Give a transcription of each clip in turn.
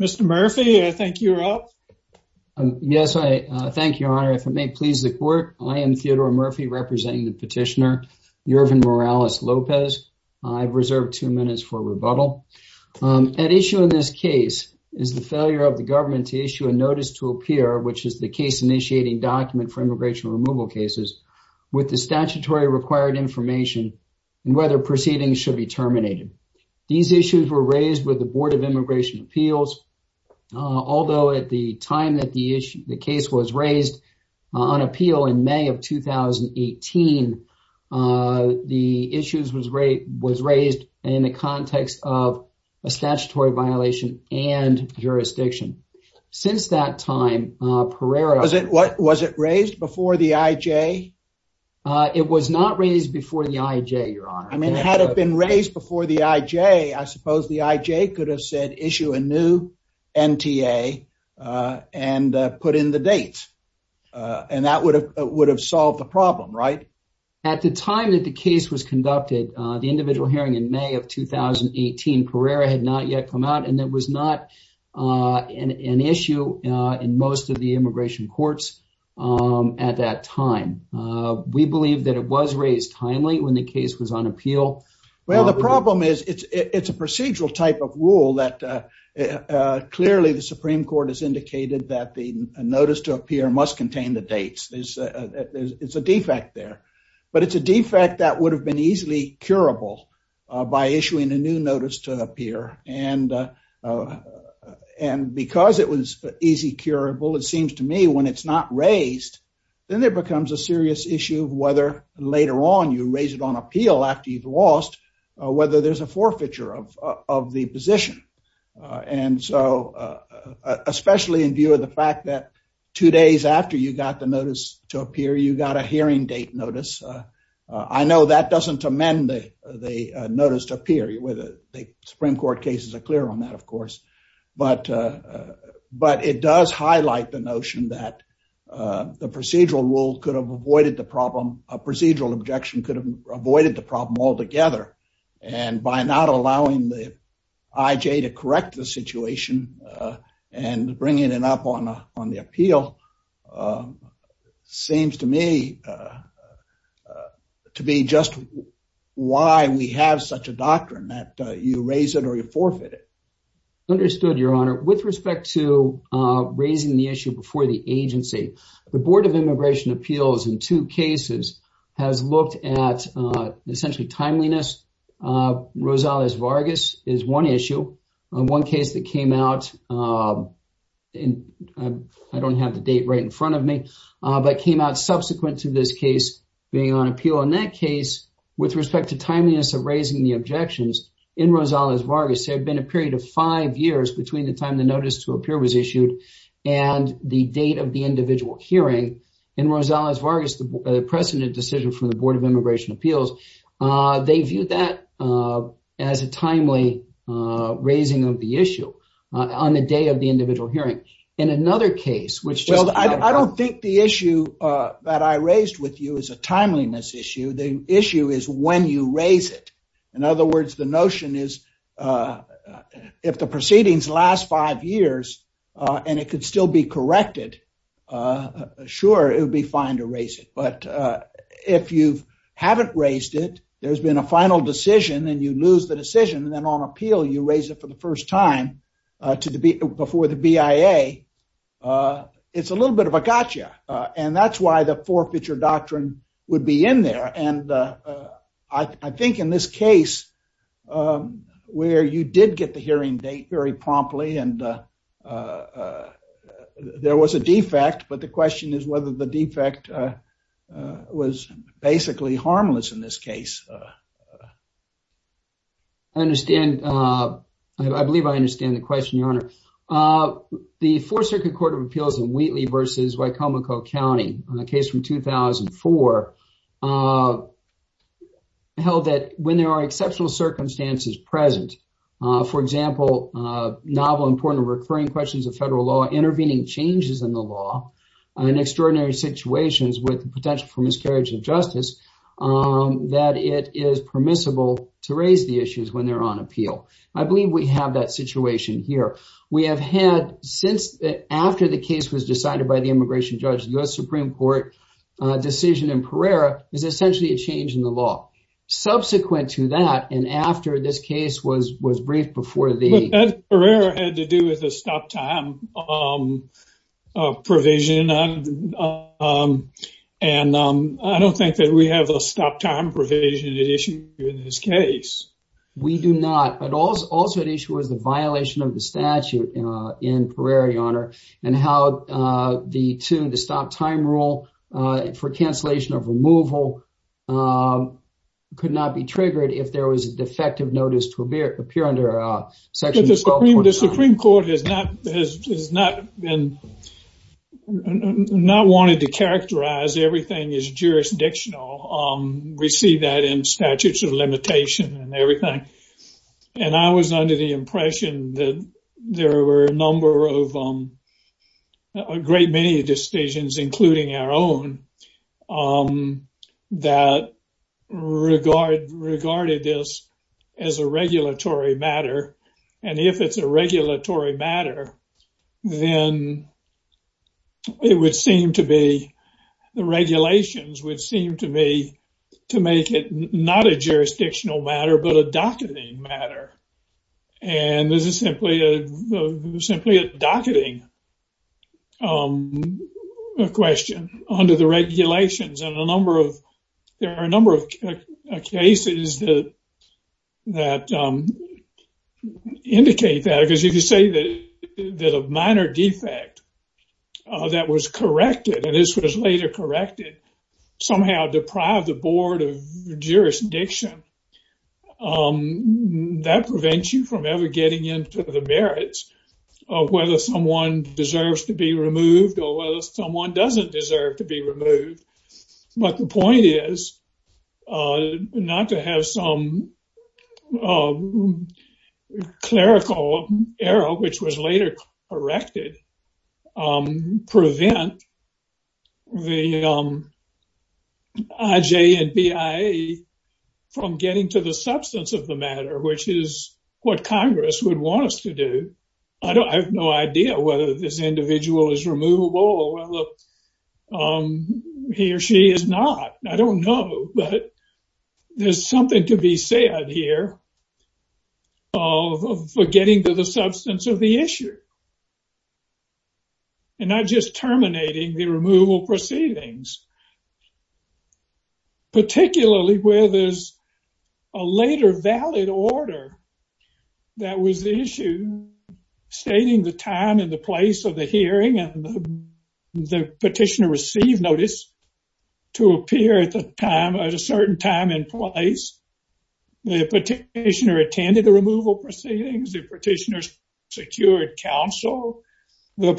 Mr. Murphy, I think you're up. Yes, I thank you, Your Honor. If it may please the court, I am Theodore Murphy representing the petitioner Yurvin Morales-Lopez. I've reserved two minutes for rebuttal. At issue in this case is the failure of the government to issue a notice to appear, which is the case initiating document for immigration removal cases, with the statutory required information and whether proceedings should be terminated. These issues were raised with the Board of Immigration Appeals. Although at the time that the issue, the case was raised on appeal in May of 2018, the issues was raised in the context of a statutory violation and jurisdiction. Since that time, Pereira- Was it raised before the IJ? It was not raised before the IJ, Your Honor. I mean, had it been raised before the IJ, I suppose the IJ could have said issue a new NTA and put in the dates, and that would have solved the problem, right? At the time that the case was conducted, the individual hearing in May of 2018, Pereira had not yet come out, and it was not an issue in most of the immigration courts at that time. We believe that it was raised timely when the case was on appeal. Well, the problem is it's a procedural type of rule that clearly the Supreme Court has indicated that the notice to appear must contain the dates. It's a defect there, but it's a defect that would have been easily curable by issuing a new notice to appear. And because it was easy curable, it seems to me when it's not raised, then there you raise it on appeal after you've lost, whether there's a forfeiture of the position. And so, especially in view of the fact that two days after you got the notice to appear, you got a hearing date notice. I know that doesn't amend the notice to appear, whether the Supreme Court cases are clear on that, of course, but it does highlight the notion that the procedural rule could have avoided the problem, a procedural objection could have avoided the problem altogether. And by not allowing the IJ to correct the situation and bringing it up on the appeal seems to me to be just why we have such a doctrine that you raise it or you forfeit it. Understood, Your Honor. With respect to raising the issue before the agency, the Board of Immigration Appeals in two cases has looked at essentially timeliness. Rosales Vargas is one issue, one case that came out, I don't have the date right in front of me, but came out subsequent to this case being on appeal. In that case, with respect to timeliness of raising the objections in Rosales Vargas, there had been a period of five years between the time the notice to appear was issued and the date of the individual hearing. In Rosales Vargas, the precedent decision from the Board of Immigration Appeals, they viewed that as a timely raising of the issue on the day of the individual hearing. In another case, which just- Well, I don't think the issue that I raised with you is a timeliness issue. The issue is when you raise it. In other words, the notion is if the proceedings last five years and it could still be corrected, sure, it would be fine to raise it. But if you haven't raised it, there's been a final decision and you lose the decision and then on appeal, you raise it for the first time before the BIA, it's a little bit of a gotcha. That's why the forfeiture doctrine would be in there. And I think in this case, where you did get the hearing date very promptly and there was a defect, but the question is whether the defect was basically harmless in this case. I understand. I believe I understand the question, Your Honor. The Fourth Circuit Court of Appeals in Wheatley versus Wicomico County, a case from 2004, held that when there are exceptional circumstances present, for example, novel, important, recurring questions of federal law, intervening changes in the law and extraordinary situations with potential for miscarriage of justice, that it is permissible to raise the issues when they're on appeal. I believe we have that situation here. We have had since after the case was decided by the immigration judge, the U.S. Supreme Court decision in Pereira is essentially a change in the law. Subsequent to that and after this case was briefed before the... But that Pereira had to do with a stop time provision and I don't think that we have a stop time provision at issue in this case. We do not, but also at issue was the violation of the statute in Pereira, Your Honor, and how the stop time rule for cancellation of removal could not be triggered if there was a defective notice to appear under Section 12. The Supreme Court has not wanted to characterize everything as jurisdictional we see that in statutes of limitation and everything. And I was under the impression that there were a number of, a great many decisions, including our own, that regarded this as a regulatory matter. And if it's a regulatory matter, then it would seem to be, the regulations would seem to me to make it not a jurisdictional matter, but a docketing matter. And this is simply a docketing question under the regulations. And there are a number of cases that indicate that, because you could say that a minor defect that was corrected, and this was later corrected, somehow deprived the Board of Jurisdiction. That prevents you from ever getting into the merits of whether someone deserves to be removed or whether someone doesn't deserve to be removed. But the point is not to have some clerical error, which was later corrected, prevent the IJ and BIA from getting to the substance of the matter, which is what Congress would want us to do. I have no idea whether this individual is removable or whether he or she is not. I don't know. But there's something to be adhered to for getting to the substance of the issue. And not just terminating the removal proceedings. Particularly where there's a later valid order that was the issue, stating the time and the place of the hearing and the petitioner received notice to appear at a certain time and place. The petitioner attended the removal proceedings. The petitioner secured counsel. The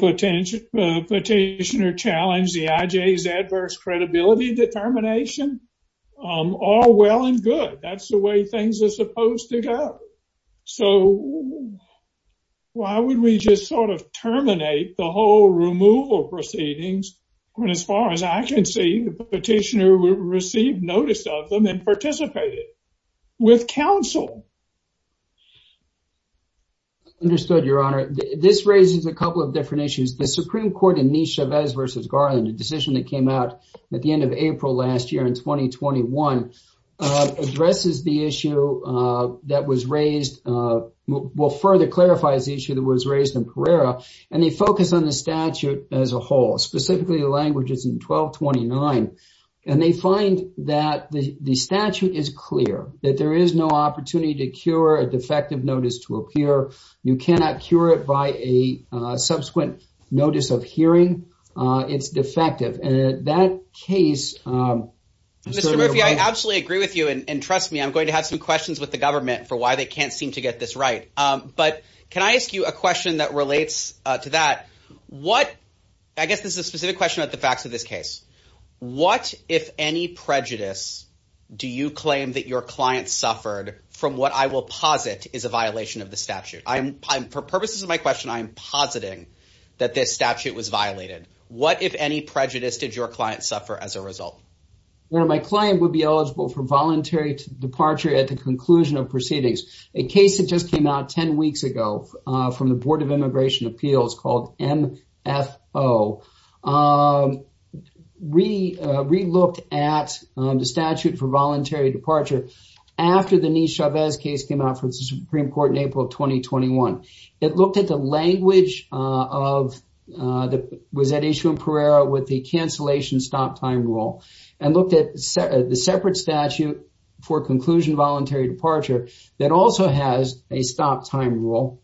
petitioner challenged the IJ's adverse credibility determination. All well and good. That's the way things are supposed to go. So, why would we just sort of terminate the whole removal proceedings when, as far as I can see, the petitioner received notice of them and participated with counsel? Understood, Your Honor. This raises a couple of different issues. The Supreme Court in Nishevez v. Garland, a decision that came out at the end of April last year in 2021, addresses the issue that was raised, well, further clarifies the issue that was raised in Carrera. And they focus on the statute as a whole. Specifically, the language is in 1229. And they find that the statute is clear. That there is no opportunity to cure a defective notice to appear. You cannot cure it by a subsequent notice of hearing. It's defective. That case... Mr. Murphy, I absolutely agree with you. And trust me, I'm going to have some questions with the government for why they can't seem to get this right. But can I ask you a question that relates to that? I guess this is a specific question about the facts of this case. What, if any, prejudice do you claim that your client suffered from what I will posit is a violation of the statute? For purposes of my question, I'm positing that this statute was your client suffer as a result. Well, my client would be eligible for voluntary departure at the conclusion of proceedings. A case that just came out 10 weeks ago from the Board of Immigration Appeals called MFO re-looked at the statute for voluntary departure after the Nish Chavez case came out for the Supreme Court in April of 2021. It looked at the language of... ...stop time rule and looked at the separate statute for conclusion voluntary departure that also has a stop time rule.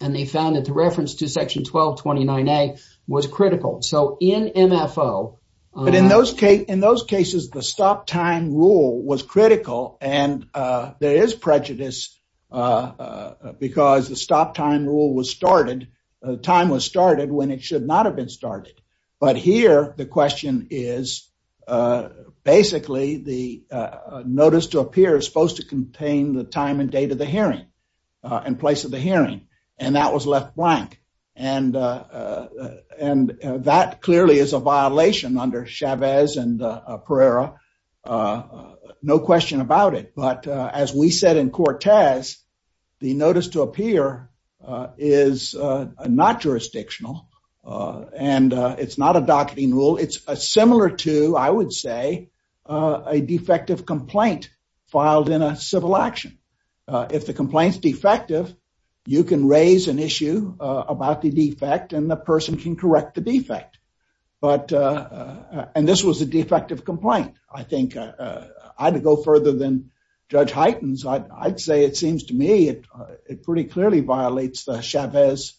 And they found that the reference to section 1229A was critical. So in MFO... But in those cases, the stop time rule was critical and there is prejudice because the stop time rule was started... time was started when it should not have been started. But here, the question is basically the notice to appear is supposed to contain the time and date of the hearing and place of the hearing. And that was left blank. And that clearly is a violation under Chavez and Pereira. No question about it. But as we said in Cortez, the notice to appear is not jurisdictional and it's not a docketing rule. It's similar to, I would say, a defective complaint filed in a civil action. If the complaint is defective, you can raise an issue about the defect and the person can correct the defect. But... And this was a defective complaint. I think I'd go further than Judge Heitens. I'd say it seems to me it pretty clearly violates the Chavez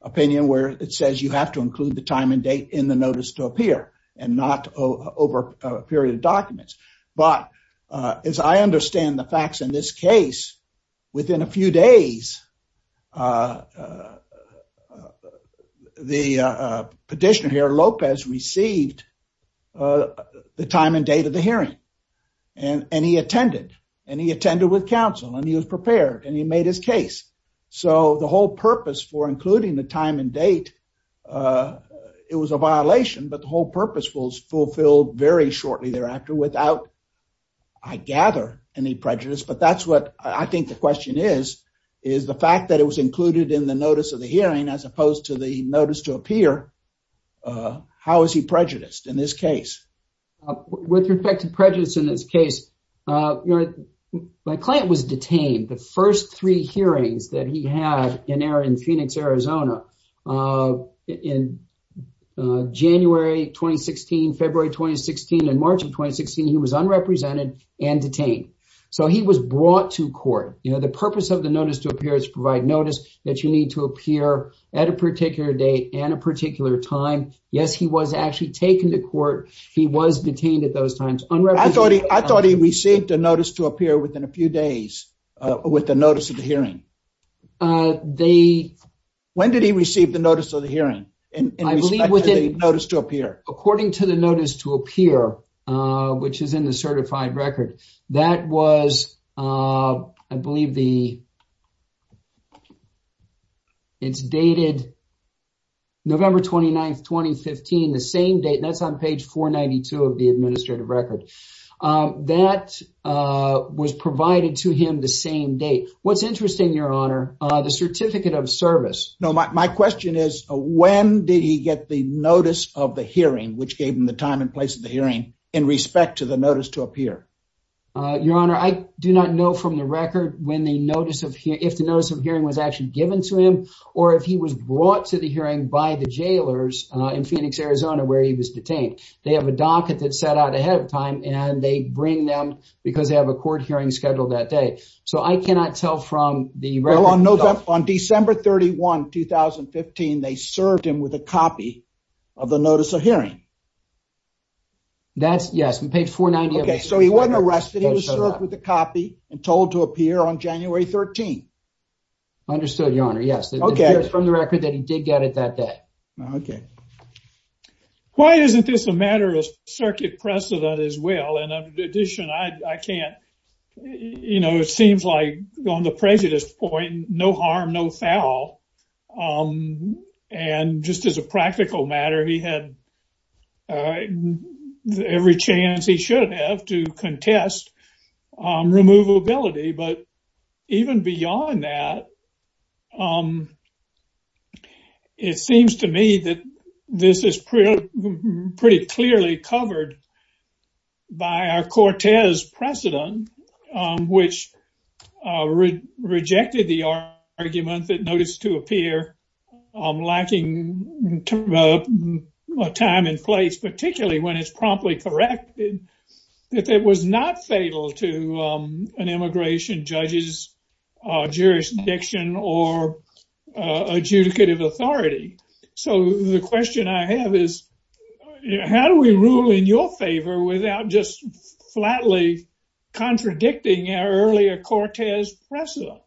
opinion where it says you have to include the time and date in the notice to appear and not over a period of documents. But as I understand the facts in this case, within a few days, the petitioner here, Lopez, received the time and date of the hearing and he attended. And he attended with counsel and he was prepared and he made his case. So the whole purpose for including the time and date, it was a violation, but the whole purpose was fulfilled very shortly thereafter without, I gather, any prejudice. But that's what I think the question is, is the fact that it was included in the notice of the hearing as opposed to the notice to appear. How is he prejudiced in this case? With respect to prejudice in this case, my client was detained. The first three hearings that he had in Phoenix, Arizona, in January 2016, February 2016, and March of 2016, he was unrepresented and detained. So he was brought to court. The purpose of the notice to appear is to provide notice that you need to appear at a particular date and a particular time. Yes, he was actually taken to court. He was detained at those times. I thought he received a notice to appear. When did he receive the notice of the hearing in respect to the notice to appear? According to the notice to appear, which is in the certified record, that was, I believe, it's dated November 29th, 2015, the same date. That's on page 492 of the administrative record. That was provided to him the same date. What's interesting, Your Honor, the certificate of service. No, my question is, when did he get the notice of the hearing, which gave him the time and place of the hearing, in respect to the notice to appear? Your Honor, I do not know from the record if the notice of hearing was actually given to him or if he was brought to the hearing by the court. I cannot tell from the record. On December 31, 2015, they served him with a copy of the notice of hearing. Yes, on page 492. He wasn't arrested. He was served with a copy and told to appear on January 13th. Understood, Your Honor. Yes, from the record that he did get it that day. Okay. Why isn't this a matter of circuit precedent as well? In addition, I can't, you know, it seems like on the prejudice point, no harm, no foul. Just as a practical matter, he had every chance he should have to contest removability. But even beyond that, it seems to me that this is pretty clearly covered by our Cortez precedent, which rejected the argument that notice to appear lacking time and place, particularly when it's not fatal to an immigration judge's jurisdiction or adjudicative authority. So the question I have is, how do we rule in your favor without just flatly contradicting our earlier Cortez precedent?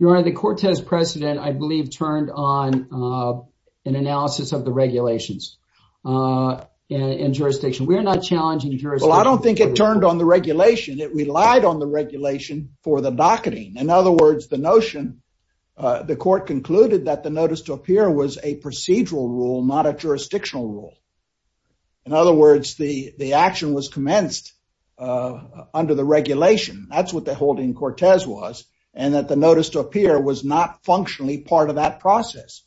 Your Honor, the Cortez precedent, I believe, turned on an analysis of the regulations in jurisdiction. We are not challenging jurisdiction. Well, I don't think it turned on the regulation. It relied on the regulation for the docketing. In other words, the notion, the court concluded that the notice to appear was a procedural rule, not a jurisdictional rule. In other words, the action was commenced under the regulation. That's what the holding Cortez was, and that the notice to appear was not functionally part of that process.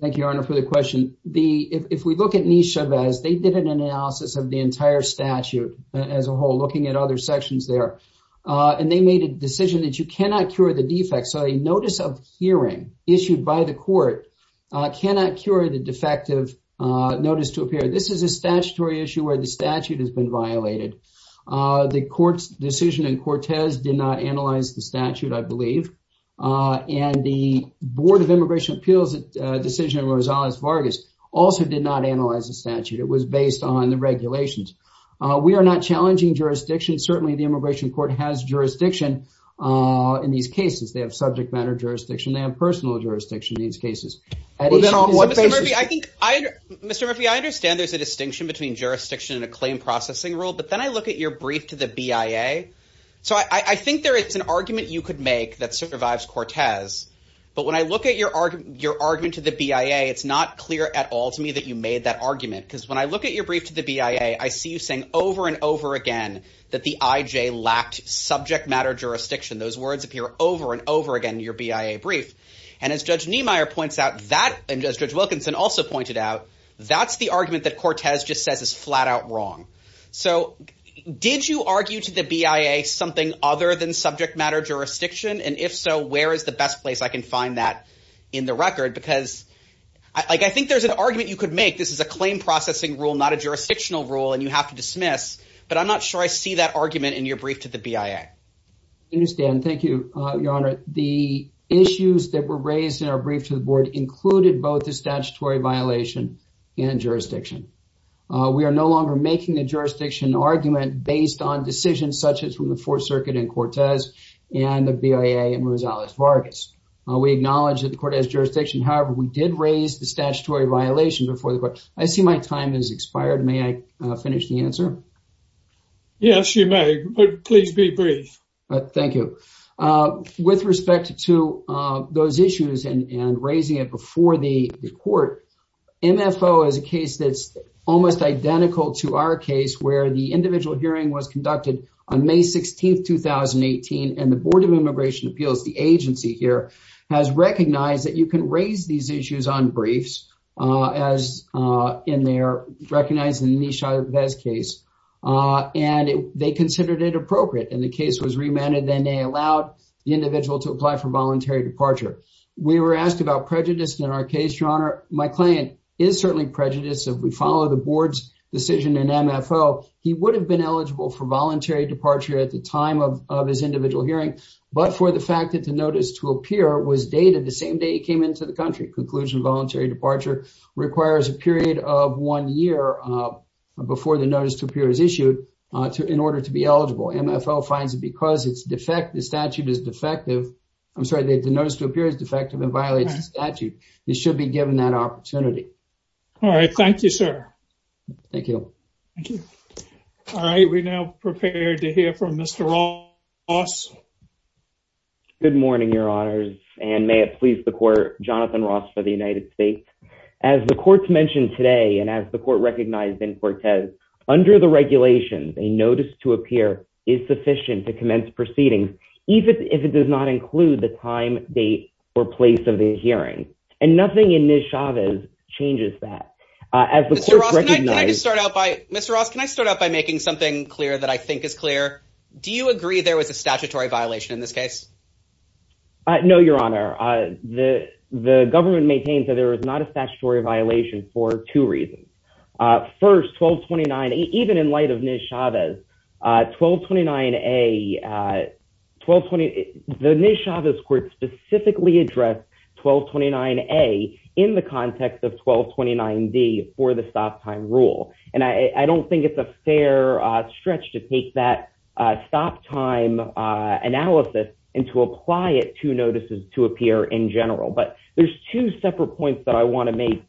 Thank you, Your Honor, for the question. If we look at Nishevez, they did an analysis of the entire statute as a whole, looking at other sections there, and they made a decision that you cannot cure the defects. So a notice of hearing issued by the court cannot cure the defective notice to appear. This is a statutory issue where the statute has been violated. The court's decision in Cortez did not analyze the statute, I believe, and the Board of Immigration Appeals' decision in Rosales-Vargas also did not analyze the statute. It was based on the regulations. We are not challenging jurisdiction. Certainly, the immigration court has jurisdiction in these cases. They have subject matter jurisdiction. They have personal jurisdiction in these cases. Mr. Murphy, I understand there's a distinction between jurisdiction and a claim processing rule, but then I look at your brief to the BIA. So I think there is an argument you could make that survives Cortez, but when I look at your argument to the BIA, it's not clear at all to me that you made that argument. Because when I look at your brief to the BIA, I see you saying over and over again that the IJ lacked subject matter jurisdiction. Those words appear over and over again in your BIA brief. And as Judge Niemeyer points out, and as Judge Wilkinson also pointed out, that's the argument that Cortez just says is flat out wrong. So did you argue to the BIA something other than subject matter jurisdiction? And if so, where is the best place I can find that in the record? Because I think there's an argument you could make. This is a claim processing rule, not a jurisdictional rule, and you have to dismiss. But I'm not sure I see that argument in your brief to the BIA. I understand. Thank you, Your Honor. The issues that were raised in our brief to the are no longer making a jurisdiction argument based on decisions such as from the Fourth Circuit in Cortez and the BIA in Rosales-Vargas. We acknowledge that the court has jurisdiction. However, we did raise the statutory violation before the court. I see my time has expired. May I finish the answer? Yes, you may, but please be brief. Thank you. With respect to those issues and raising it before the court, MFO is a case that's almost identical to our case where the individual hearing was conducted on May 16th, 2018, and the Board of Immigration Appeals, the agency here, has recognized that you can raise these issues on briefs, as in their recognized Nisha Vez case, and they considered it appropriate. And the case was remanded, and they allowed the individual to apply for voluntary departure. We were asked about prejudice in our case, Your Honor. My client is certainly prejudiced. If we follow the Board's decision in MFO, he would have been eligible for voluntary departure at the time of his individual hearing, but for the fact that the notice to appear was dated the same day he came into the country. Conclusion, voluntary departure requires a period of one year before the notice to appear is issued in order to be eligible. MFO finds it because the statute is defective. I'm sorry, the notice to appear is a period of one year before the notice to appear is issued in order to be eligible for to be eligible for the Nisha Vez case, and therefore, it's a time and opportunity. All right, thank you, sir. Thank you. All right, we're now prepared to hear from Mr. Ross. Good morning, Your Honor, and may it please the Court, Jonathan Ross for the United States. As the Court's mentioned today, and as the Court recognized in Cortez, under the regulations, a notice to appear is sufficient to commence proceedings, even if it does not include the time, date, or place of the hearing, and nothing in Nisha Vez changes that. Mr. Ross, can I start out by making something clear that I think is clear? Do you agree there was a statutory violation in this case? No, Your Honor. The government maintains that there was not a statutory violation for two reasons. First, 1229, even in light of Nisha Vez, 1229A, 1220, the Nisha Vez Court specifically addressed 1229A in the context of 1229D for the stop time rule, and I don't think it's a fair stretch to take that stop time analysis and to apply it to notices to appear in general, but there's two separate points that I want to make.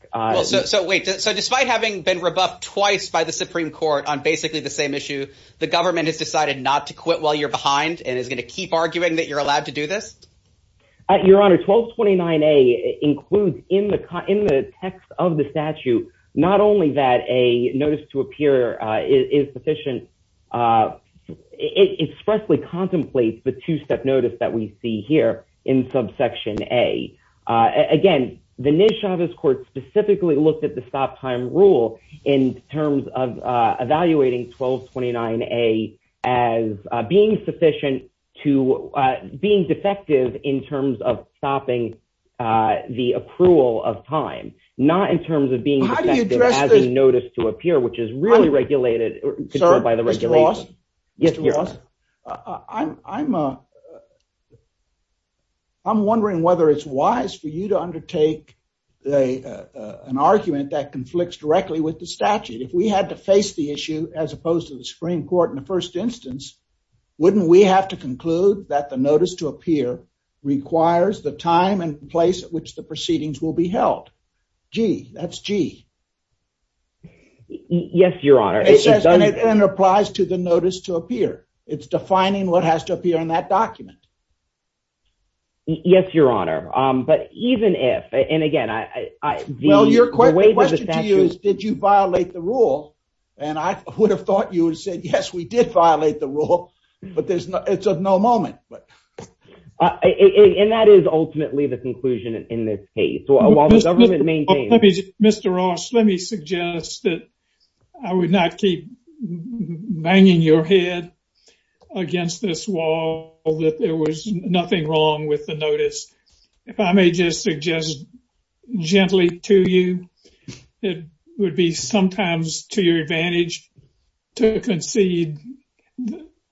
So wait, so despite having been rebuffed twice by the Supreme Court on basically the same issue, the government has decided not to quit while you're behind and is going to keep arguing that you're allowed to do this? Your Honor, 1229A includes in the text of the statute not only that a notice to appear is sufficient, it expressly contemplates the two-step notice that we see here in subsection A. Again, the Nisha Vez Court specifically looked at the stop time rule in terms of evaluating 1229A as being sufficient to being defective in terms of stopping the accrual of time, not in terms of being defective as a notice to appear, which is really regulated by the regulation. Sir, Mr. Ross, I'm wondering whether it's wise for you to undertake an argument that conflicts directly with the statute. If we had to face the issue as opposed to the Supreme Court in the first instance, wouldn't we have to conclude that the requires the time and place at which the proceedings will be held? G, that's G. Yes, Your Honor. It says and it applies to the notice to appear. It's defining what has to appear in that document. Yes, Your Honor, but even if, and again, well, your question to you is did you violate the rule? And I would have thought you would say, yes, we did violate the rule, but it's of no moment. And that is ultimately the conclusion in this case. While the government maintains. Mr. Ross, let me suggest that I would not keep banging your head against this wall that there was nothing wrong with the notice. If I may just suggest gently to you, it would be sometimes to your advantage to concede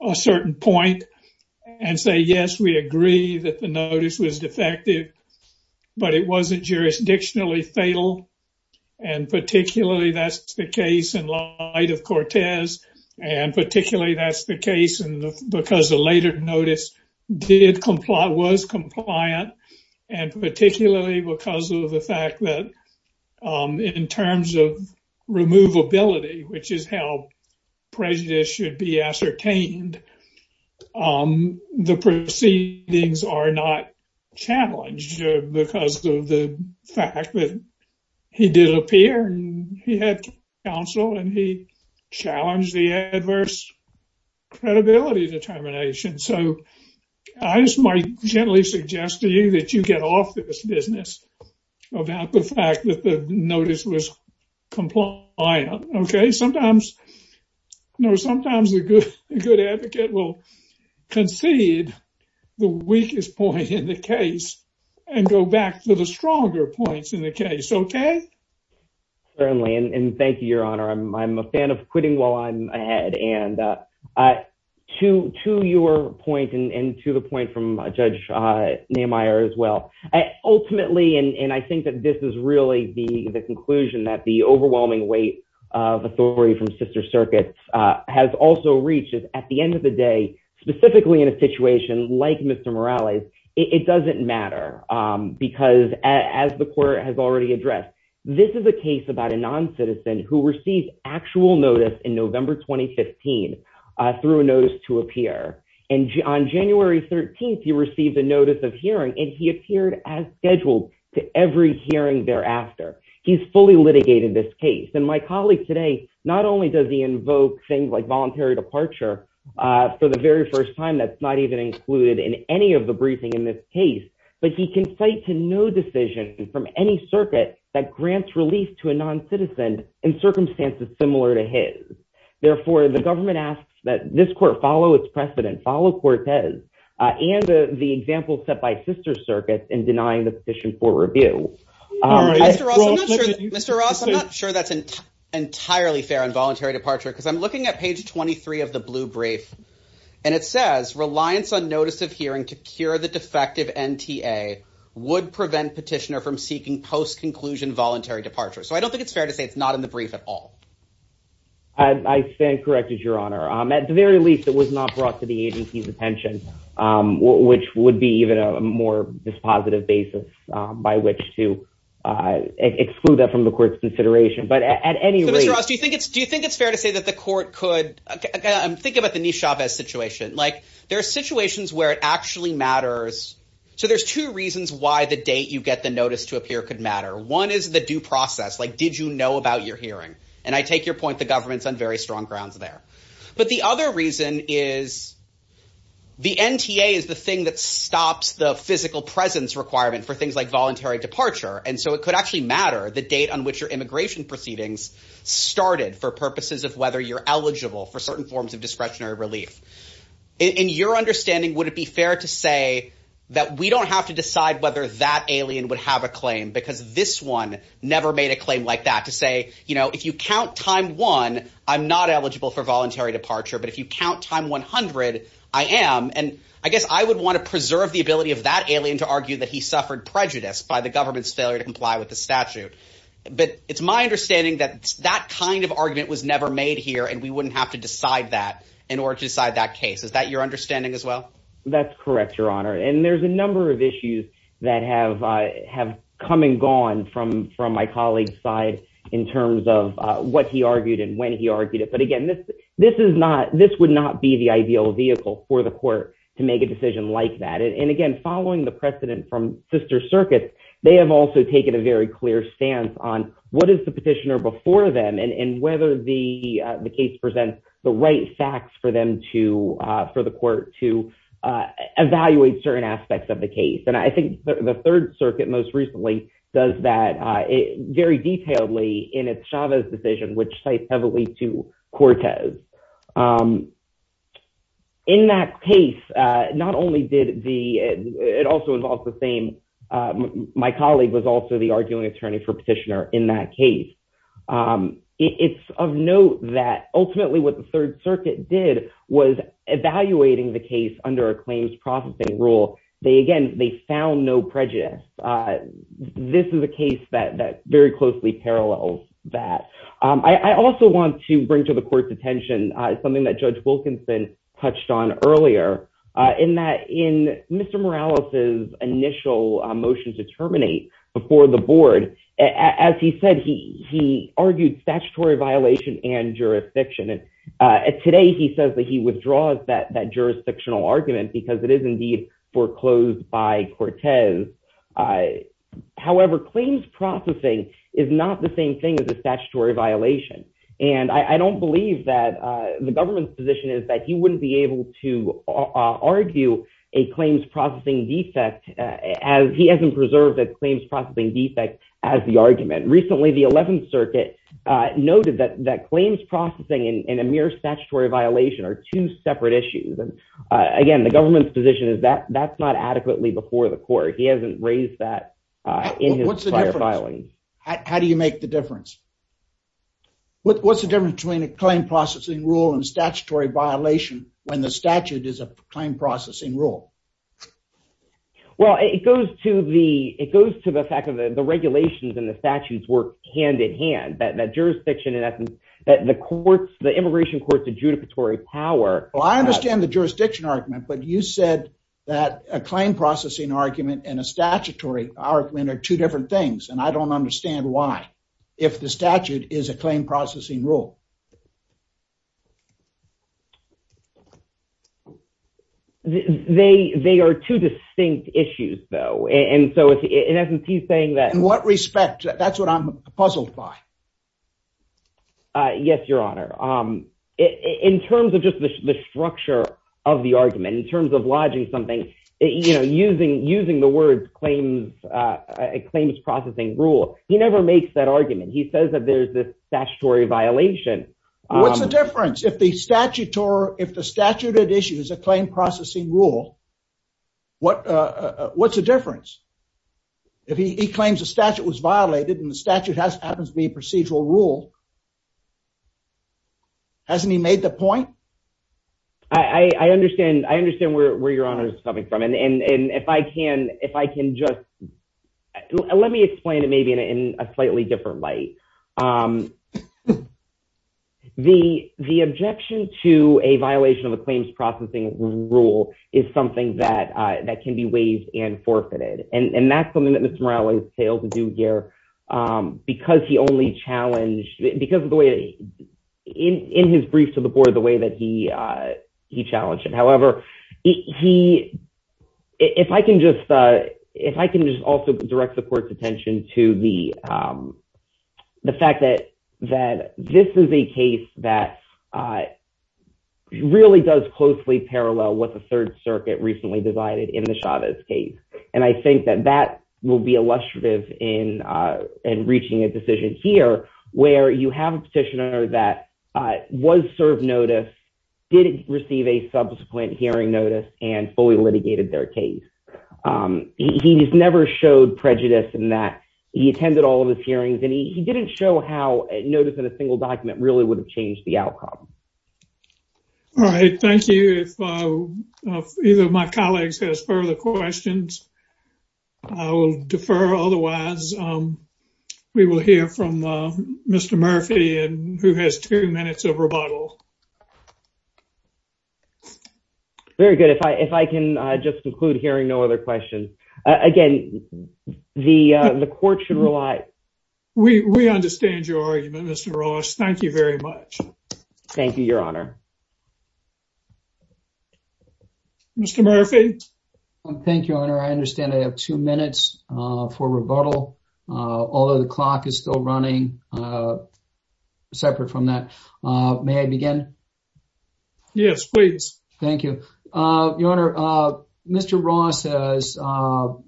a certain point and say, yes, we agree that the notice was defective, but it wasn't jurisdictionally fatal. And particularly, that's the case in light of Cortez. And particularly, that's the case because the later notice did comply, was compliant. And particularly because of the fact that in terms of removability, which is how prejudice should be ascertained, the proceedings are not challenged because of the fact that he did appear and he had counsel and he had credibility determination. So I just might gently suggest to you that you get off this business about the fact that the notice was compliant. Okay. Sometimes, you know, sometimes a good, good advocate will concede the weakest point in the case and go back to the stronger points in the case. Okay. Certainly. And thank you, Your Honor. I'm a fan of quitting while I'm at it. And to your point and to the point from Judge Nehemiah as well, ultimately, and I think that this is really the conclusion that the overwhelming weight of authority from sister circuits has also reached is at the end of the day, specifically in a situation like Mr. Morales, it doesn't matter. Because as the court has already addressed, this is a case about a through a notice to appear. And on January 13th, he received a notice of hearing and he appeared as scheduled to every hearing thereafter. He's fully litigated this case. And my colleague today, not only does he invoke things like voluntary departure for the very first time, that's not even included in any of the briefing in this case, but he can cite to no decision from any circuit that grants relief to a non-citizen in circumstances similar to his. Therefore, the government asks that this court follow its precedent, follow Cortez and the example set by sister circuits in denying the petition for review. Mr. Ross, I'm not sure that's entirely fair on voluntary departure because I'm looking at page 23 of the blue brief. And it says reliance on notice of hearing to cure the defective NTA would prevent petitioner from seeking post-conclusion voluntary departure. So I don't think it's fair to say it's not in the brief at all. I stand corrected, your honor. At the very least, it was not brought to the agency's attention, which would be even a more dispositive basis by which to exclude that from the court's consideration. But at any rate- So Mr. Ross, do you think it's fair to say that the court could, I'm thinking about the niche shop as situation, like there are situations where it actually matters. So there's two reasons why the date you get the notice to appear could matter. One is the due process, like did you know about your hearing? And I take your point, the government's on very strong grounds there. But the other reason is the NTA is the thing that stops the physical presence requirement for things like voluntary departure. And so it could actually matter the date on which your immigration proceedings started for purposes of whether you're eligible for voluntary departure. But it's my understanding that that kind of argument was never made here, and we wouldn't have to decide that in order to decide that case. Is that your understanding as well? That's correct, Your Honor. And there's a number of issues that have come and gone from my colleague's side in terms of what he argued and when he argued it. But again, this would not be the ideal vehicle for the court to make a decision like that. And again, following the precedent from sister circuits, they have also taken a very clear stance on what is the petitioner before them and whether the case presents the right facts for them to, for the court to evaluate certain aspects of the case. And I think the third circuit most recently does that very detailedly in its Chavez decision, which cites heavily to Cortez. In that case, not only did the, it also involves the same, my colleague was also the arguing attorney for petitioner in that case. It's of note that ultimately what the third circuit did was evaluating the case under a claims processing rule. They, again, they found no prejudice. This is a case that very closely parallels that. I also want to bring to the court's attention something that Judge Wilkinson touched on earlier in that in Mr. Morales's initial motion to terminate before the board, as he said, he, he argued statutory violation and jurisdiction. And today he says that he withdraws that, that jurisdictional argument because it is indeed foreclosed by Cortez. However, claims processing is not the same thing as a statutory violation. And I don't believe that the government's position is that he wouldn't be able to argue a claims processing defect as he hasn't preserved that claims processing defect as the argument. Recently, the 11th circuit noted that, that claims processing and a mere statutory violation are two separate issues. And again, the government's position is that that's not adequately before the court. He hasn't raised that in his prior filing. What's the difference? How do you make the difference? What's the difference between a claim processing rule and statutory violation when the statute is a claim processing rule? Well, it goes to the, it goes to the fact of the regulations and the statutes work hand in hand, that, that jurisdiction in essence, that the courts, the immigration courts, the judicatory power. Well, I understand the jurisdiction argument, but you said that a claim processing argument and a statutory argument are two different things. And I don't understand why, if the statute is a claim processing rule. They, they are two distinct issues though. And so in essence, he's saying that- In what respect? That's what I'm puzzled by. Yes, your honor. In terms of just the structure of the argument, in terms of lodging something, you know, using, using the word claims, claims processing rule. He never makes that argument. He says that there's this statutory violation. What's the difference? If the statute or if the statute at issue is a claim processing rule, what, what's the difference? If he claims the statute was violated and the statute has, happens to be a procedural rule, hasn't he made the point? I, I understand, I understand where, where your honor is coming from. And, and, and if I can, if I can just, let me explain it maybe in a slightly different light. The, the objection to a violation of a claims processing rule is something that, that can be waived and forfeited. And that's something that Mr. Morales failed to do here because he only challenged, because of the way that he, in, in his brief to the board, the way that he, he challenged it. However, he, if I can just, if I can just also direct the court's attention to the, the fact that, that this is a case that really does closely parallel what the Third Circuit recently decided in the Chavez case. And I think that that will be illustrative in, in reaching a decision here where you have a petitioner that was served notice, didn't receive a subsequent hearing notice, and fully litigated their case. He just never showed prejudice in that he attended all of his hearings and he, he didn't show how notice in a single document really would have changed the outcome. All right. Thank you. If either of my colleagues has further questions, I will defer. Otherwise, we will hear from Mr. Murphy and who has two minutes of rebuttal. Very good. If I, if I can just conclude hearing no other questions. Again, the, the court should rely. We, we understand your argument, Mr. Ross. Thank you very much. Thank you, Your Honor. Mr. Murphy? Thank you, Your Honor. I understand I have two minutes for rebuttal. Although the clock is still running, separate from that. May I begin? Yes, please. Thank you. Your Honor, Mr. Ross has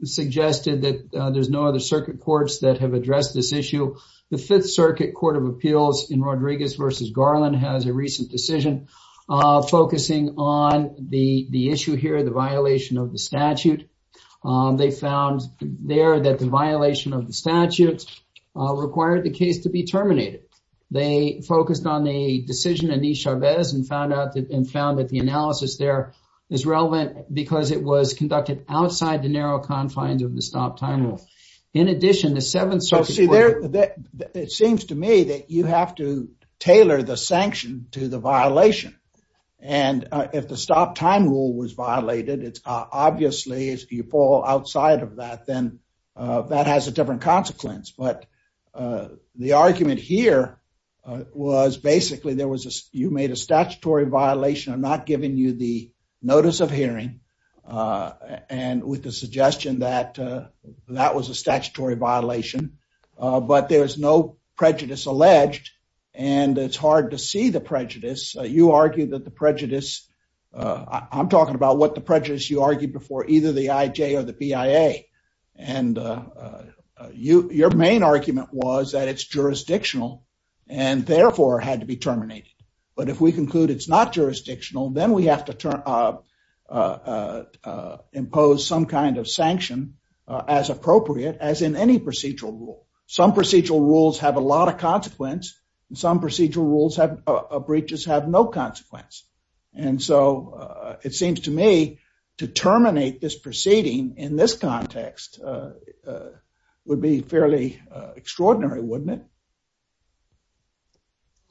suggested that there's no other circuit courts that have decision focusing on the, the issue here, the violation of the statute. They found there that the violation of the statute required the case to be terminated. They focused on the decision in E. Chavez and found out that, and found that the analysis there is relevant because it was conducted outside the narrow confines of the stop time rule. In addition, the seventh circuit court it seems to me that you have to tailor the sanction to the violation. And if the stop time rule was violated, it's obviously if you fall outside of that, then that has a different consequence. But the argument here was basically there was a, you made a statutory violation of not giving you the notice of hearing. And with the suggestion that that was a statutory violation but there was no prejudice alleged, and it's hard to see the prejudice. You argue that the prejudice, I'm talking about what the prejudice you argued before either the IJ or the BIA. And you, your main argument was that it's jurisdictional and therefore had to be terminated. But if we conclude it's not jurisdictional, then we have to turn, impose some kind of sanction as appropriate as in any procedural rule. Some procedural rules have a lot of consequence and some procedural rules have, breaches have no consequence. And so it seems to me to terminate this proceeding in this context would be fairly extraordinary, wouldn't it?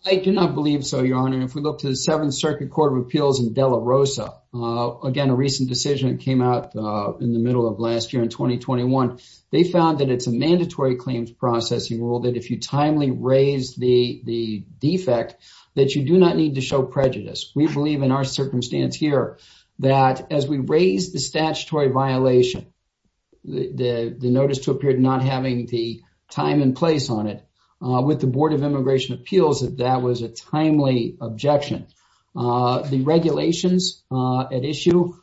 I do not believe so, Your Honor. If we look to the Seventh Circuit Court of Appeals in De La Rosa, again, a recent decision came out in the middle of last year in 2021. They found that it's a mandatory claims processing rule that if you timely raise the defect, that you do not need to show prejudice. We believe in our circumstance here that as we raise the statutory violation, the notice to appear not having the time and place on it. With the Board of Immigration Appeals, that was a timely objection. The regulations at issue,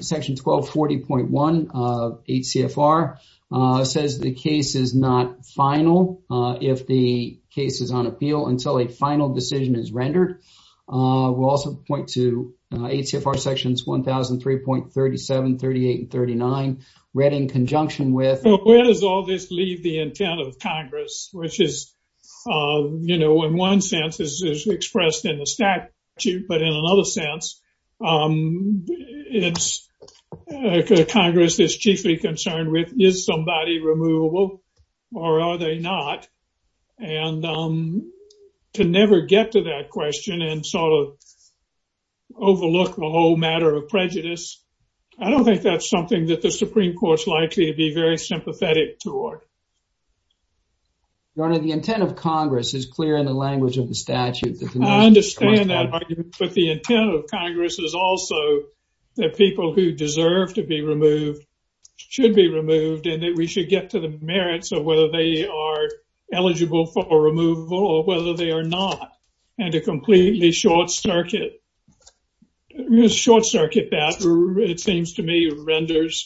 Section 1240.1 of HCFR says the case is not final if the case is on appeal until a final decision is rendered. We'll also point to HCFR Sections 1003.37, 38, and 39, read in conjunction with... Where does all this leave the intent of Congress, which is, you know, in one sense is expressed in the statute, but in another sense, Congress is chiefly concerned with, is somebody removable or are they not? And to never get to that question and sort of overlook the whole matter of prejudice, I don't think that's something that the Supreme Court's likely to be very sympathetic toward. Your Honor, the intent of Congress is clear in the language of the statute. I understand that argument, but the intent of Congress is also that people who deserve to be removed should be removed and that we should get to the merits of whether they are eligible for removal or whether they are not. And to completely short circuit that, it seems to me, renders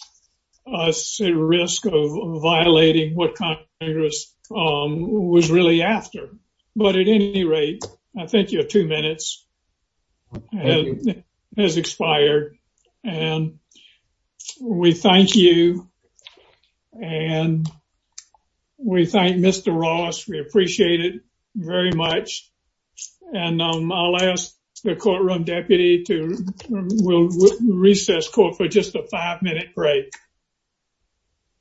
us at risk of violating what Congress was really after. But at any rate, I think your two very much. And I'll ask the courtroom deputy to... We'll recess court for just a five-minute break.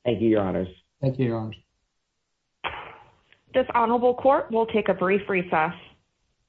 Thank you, Your Honors. Thank you, Your Honors. This honorable court will take a brief recess.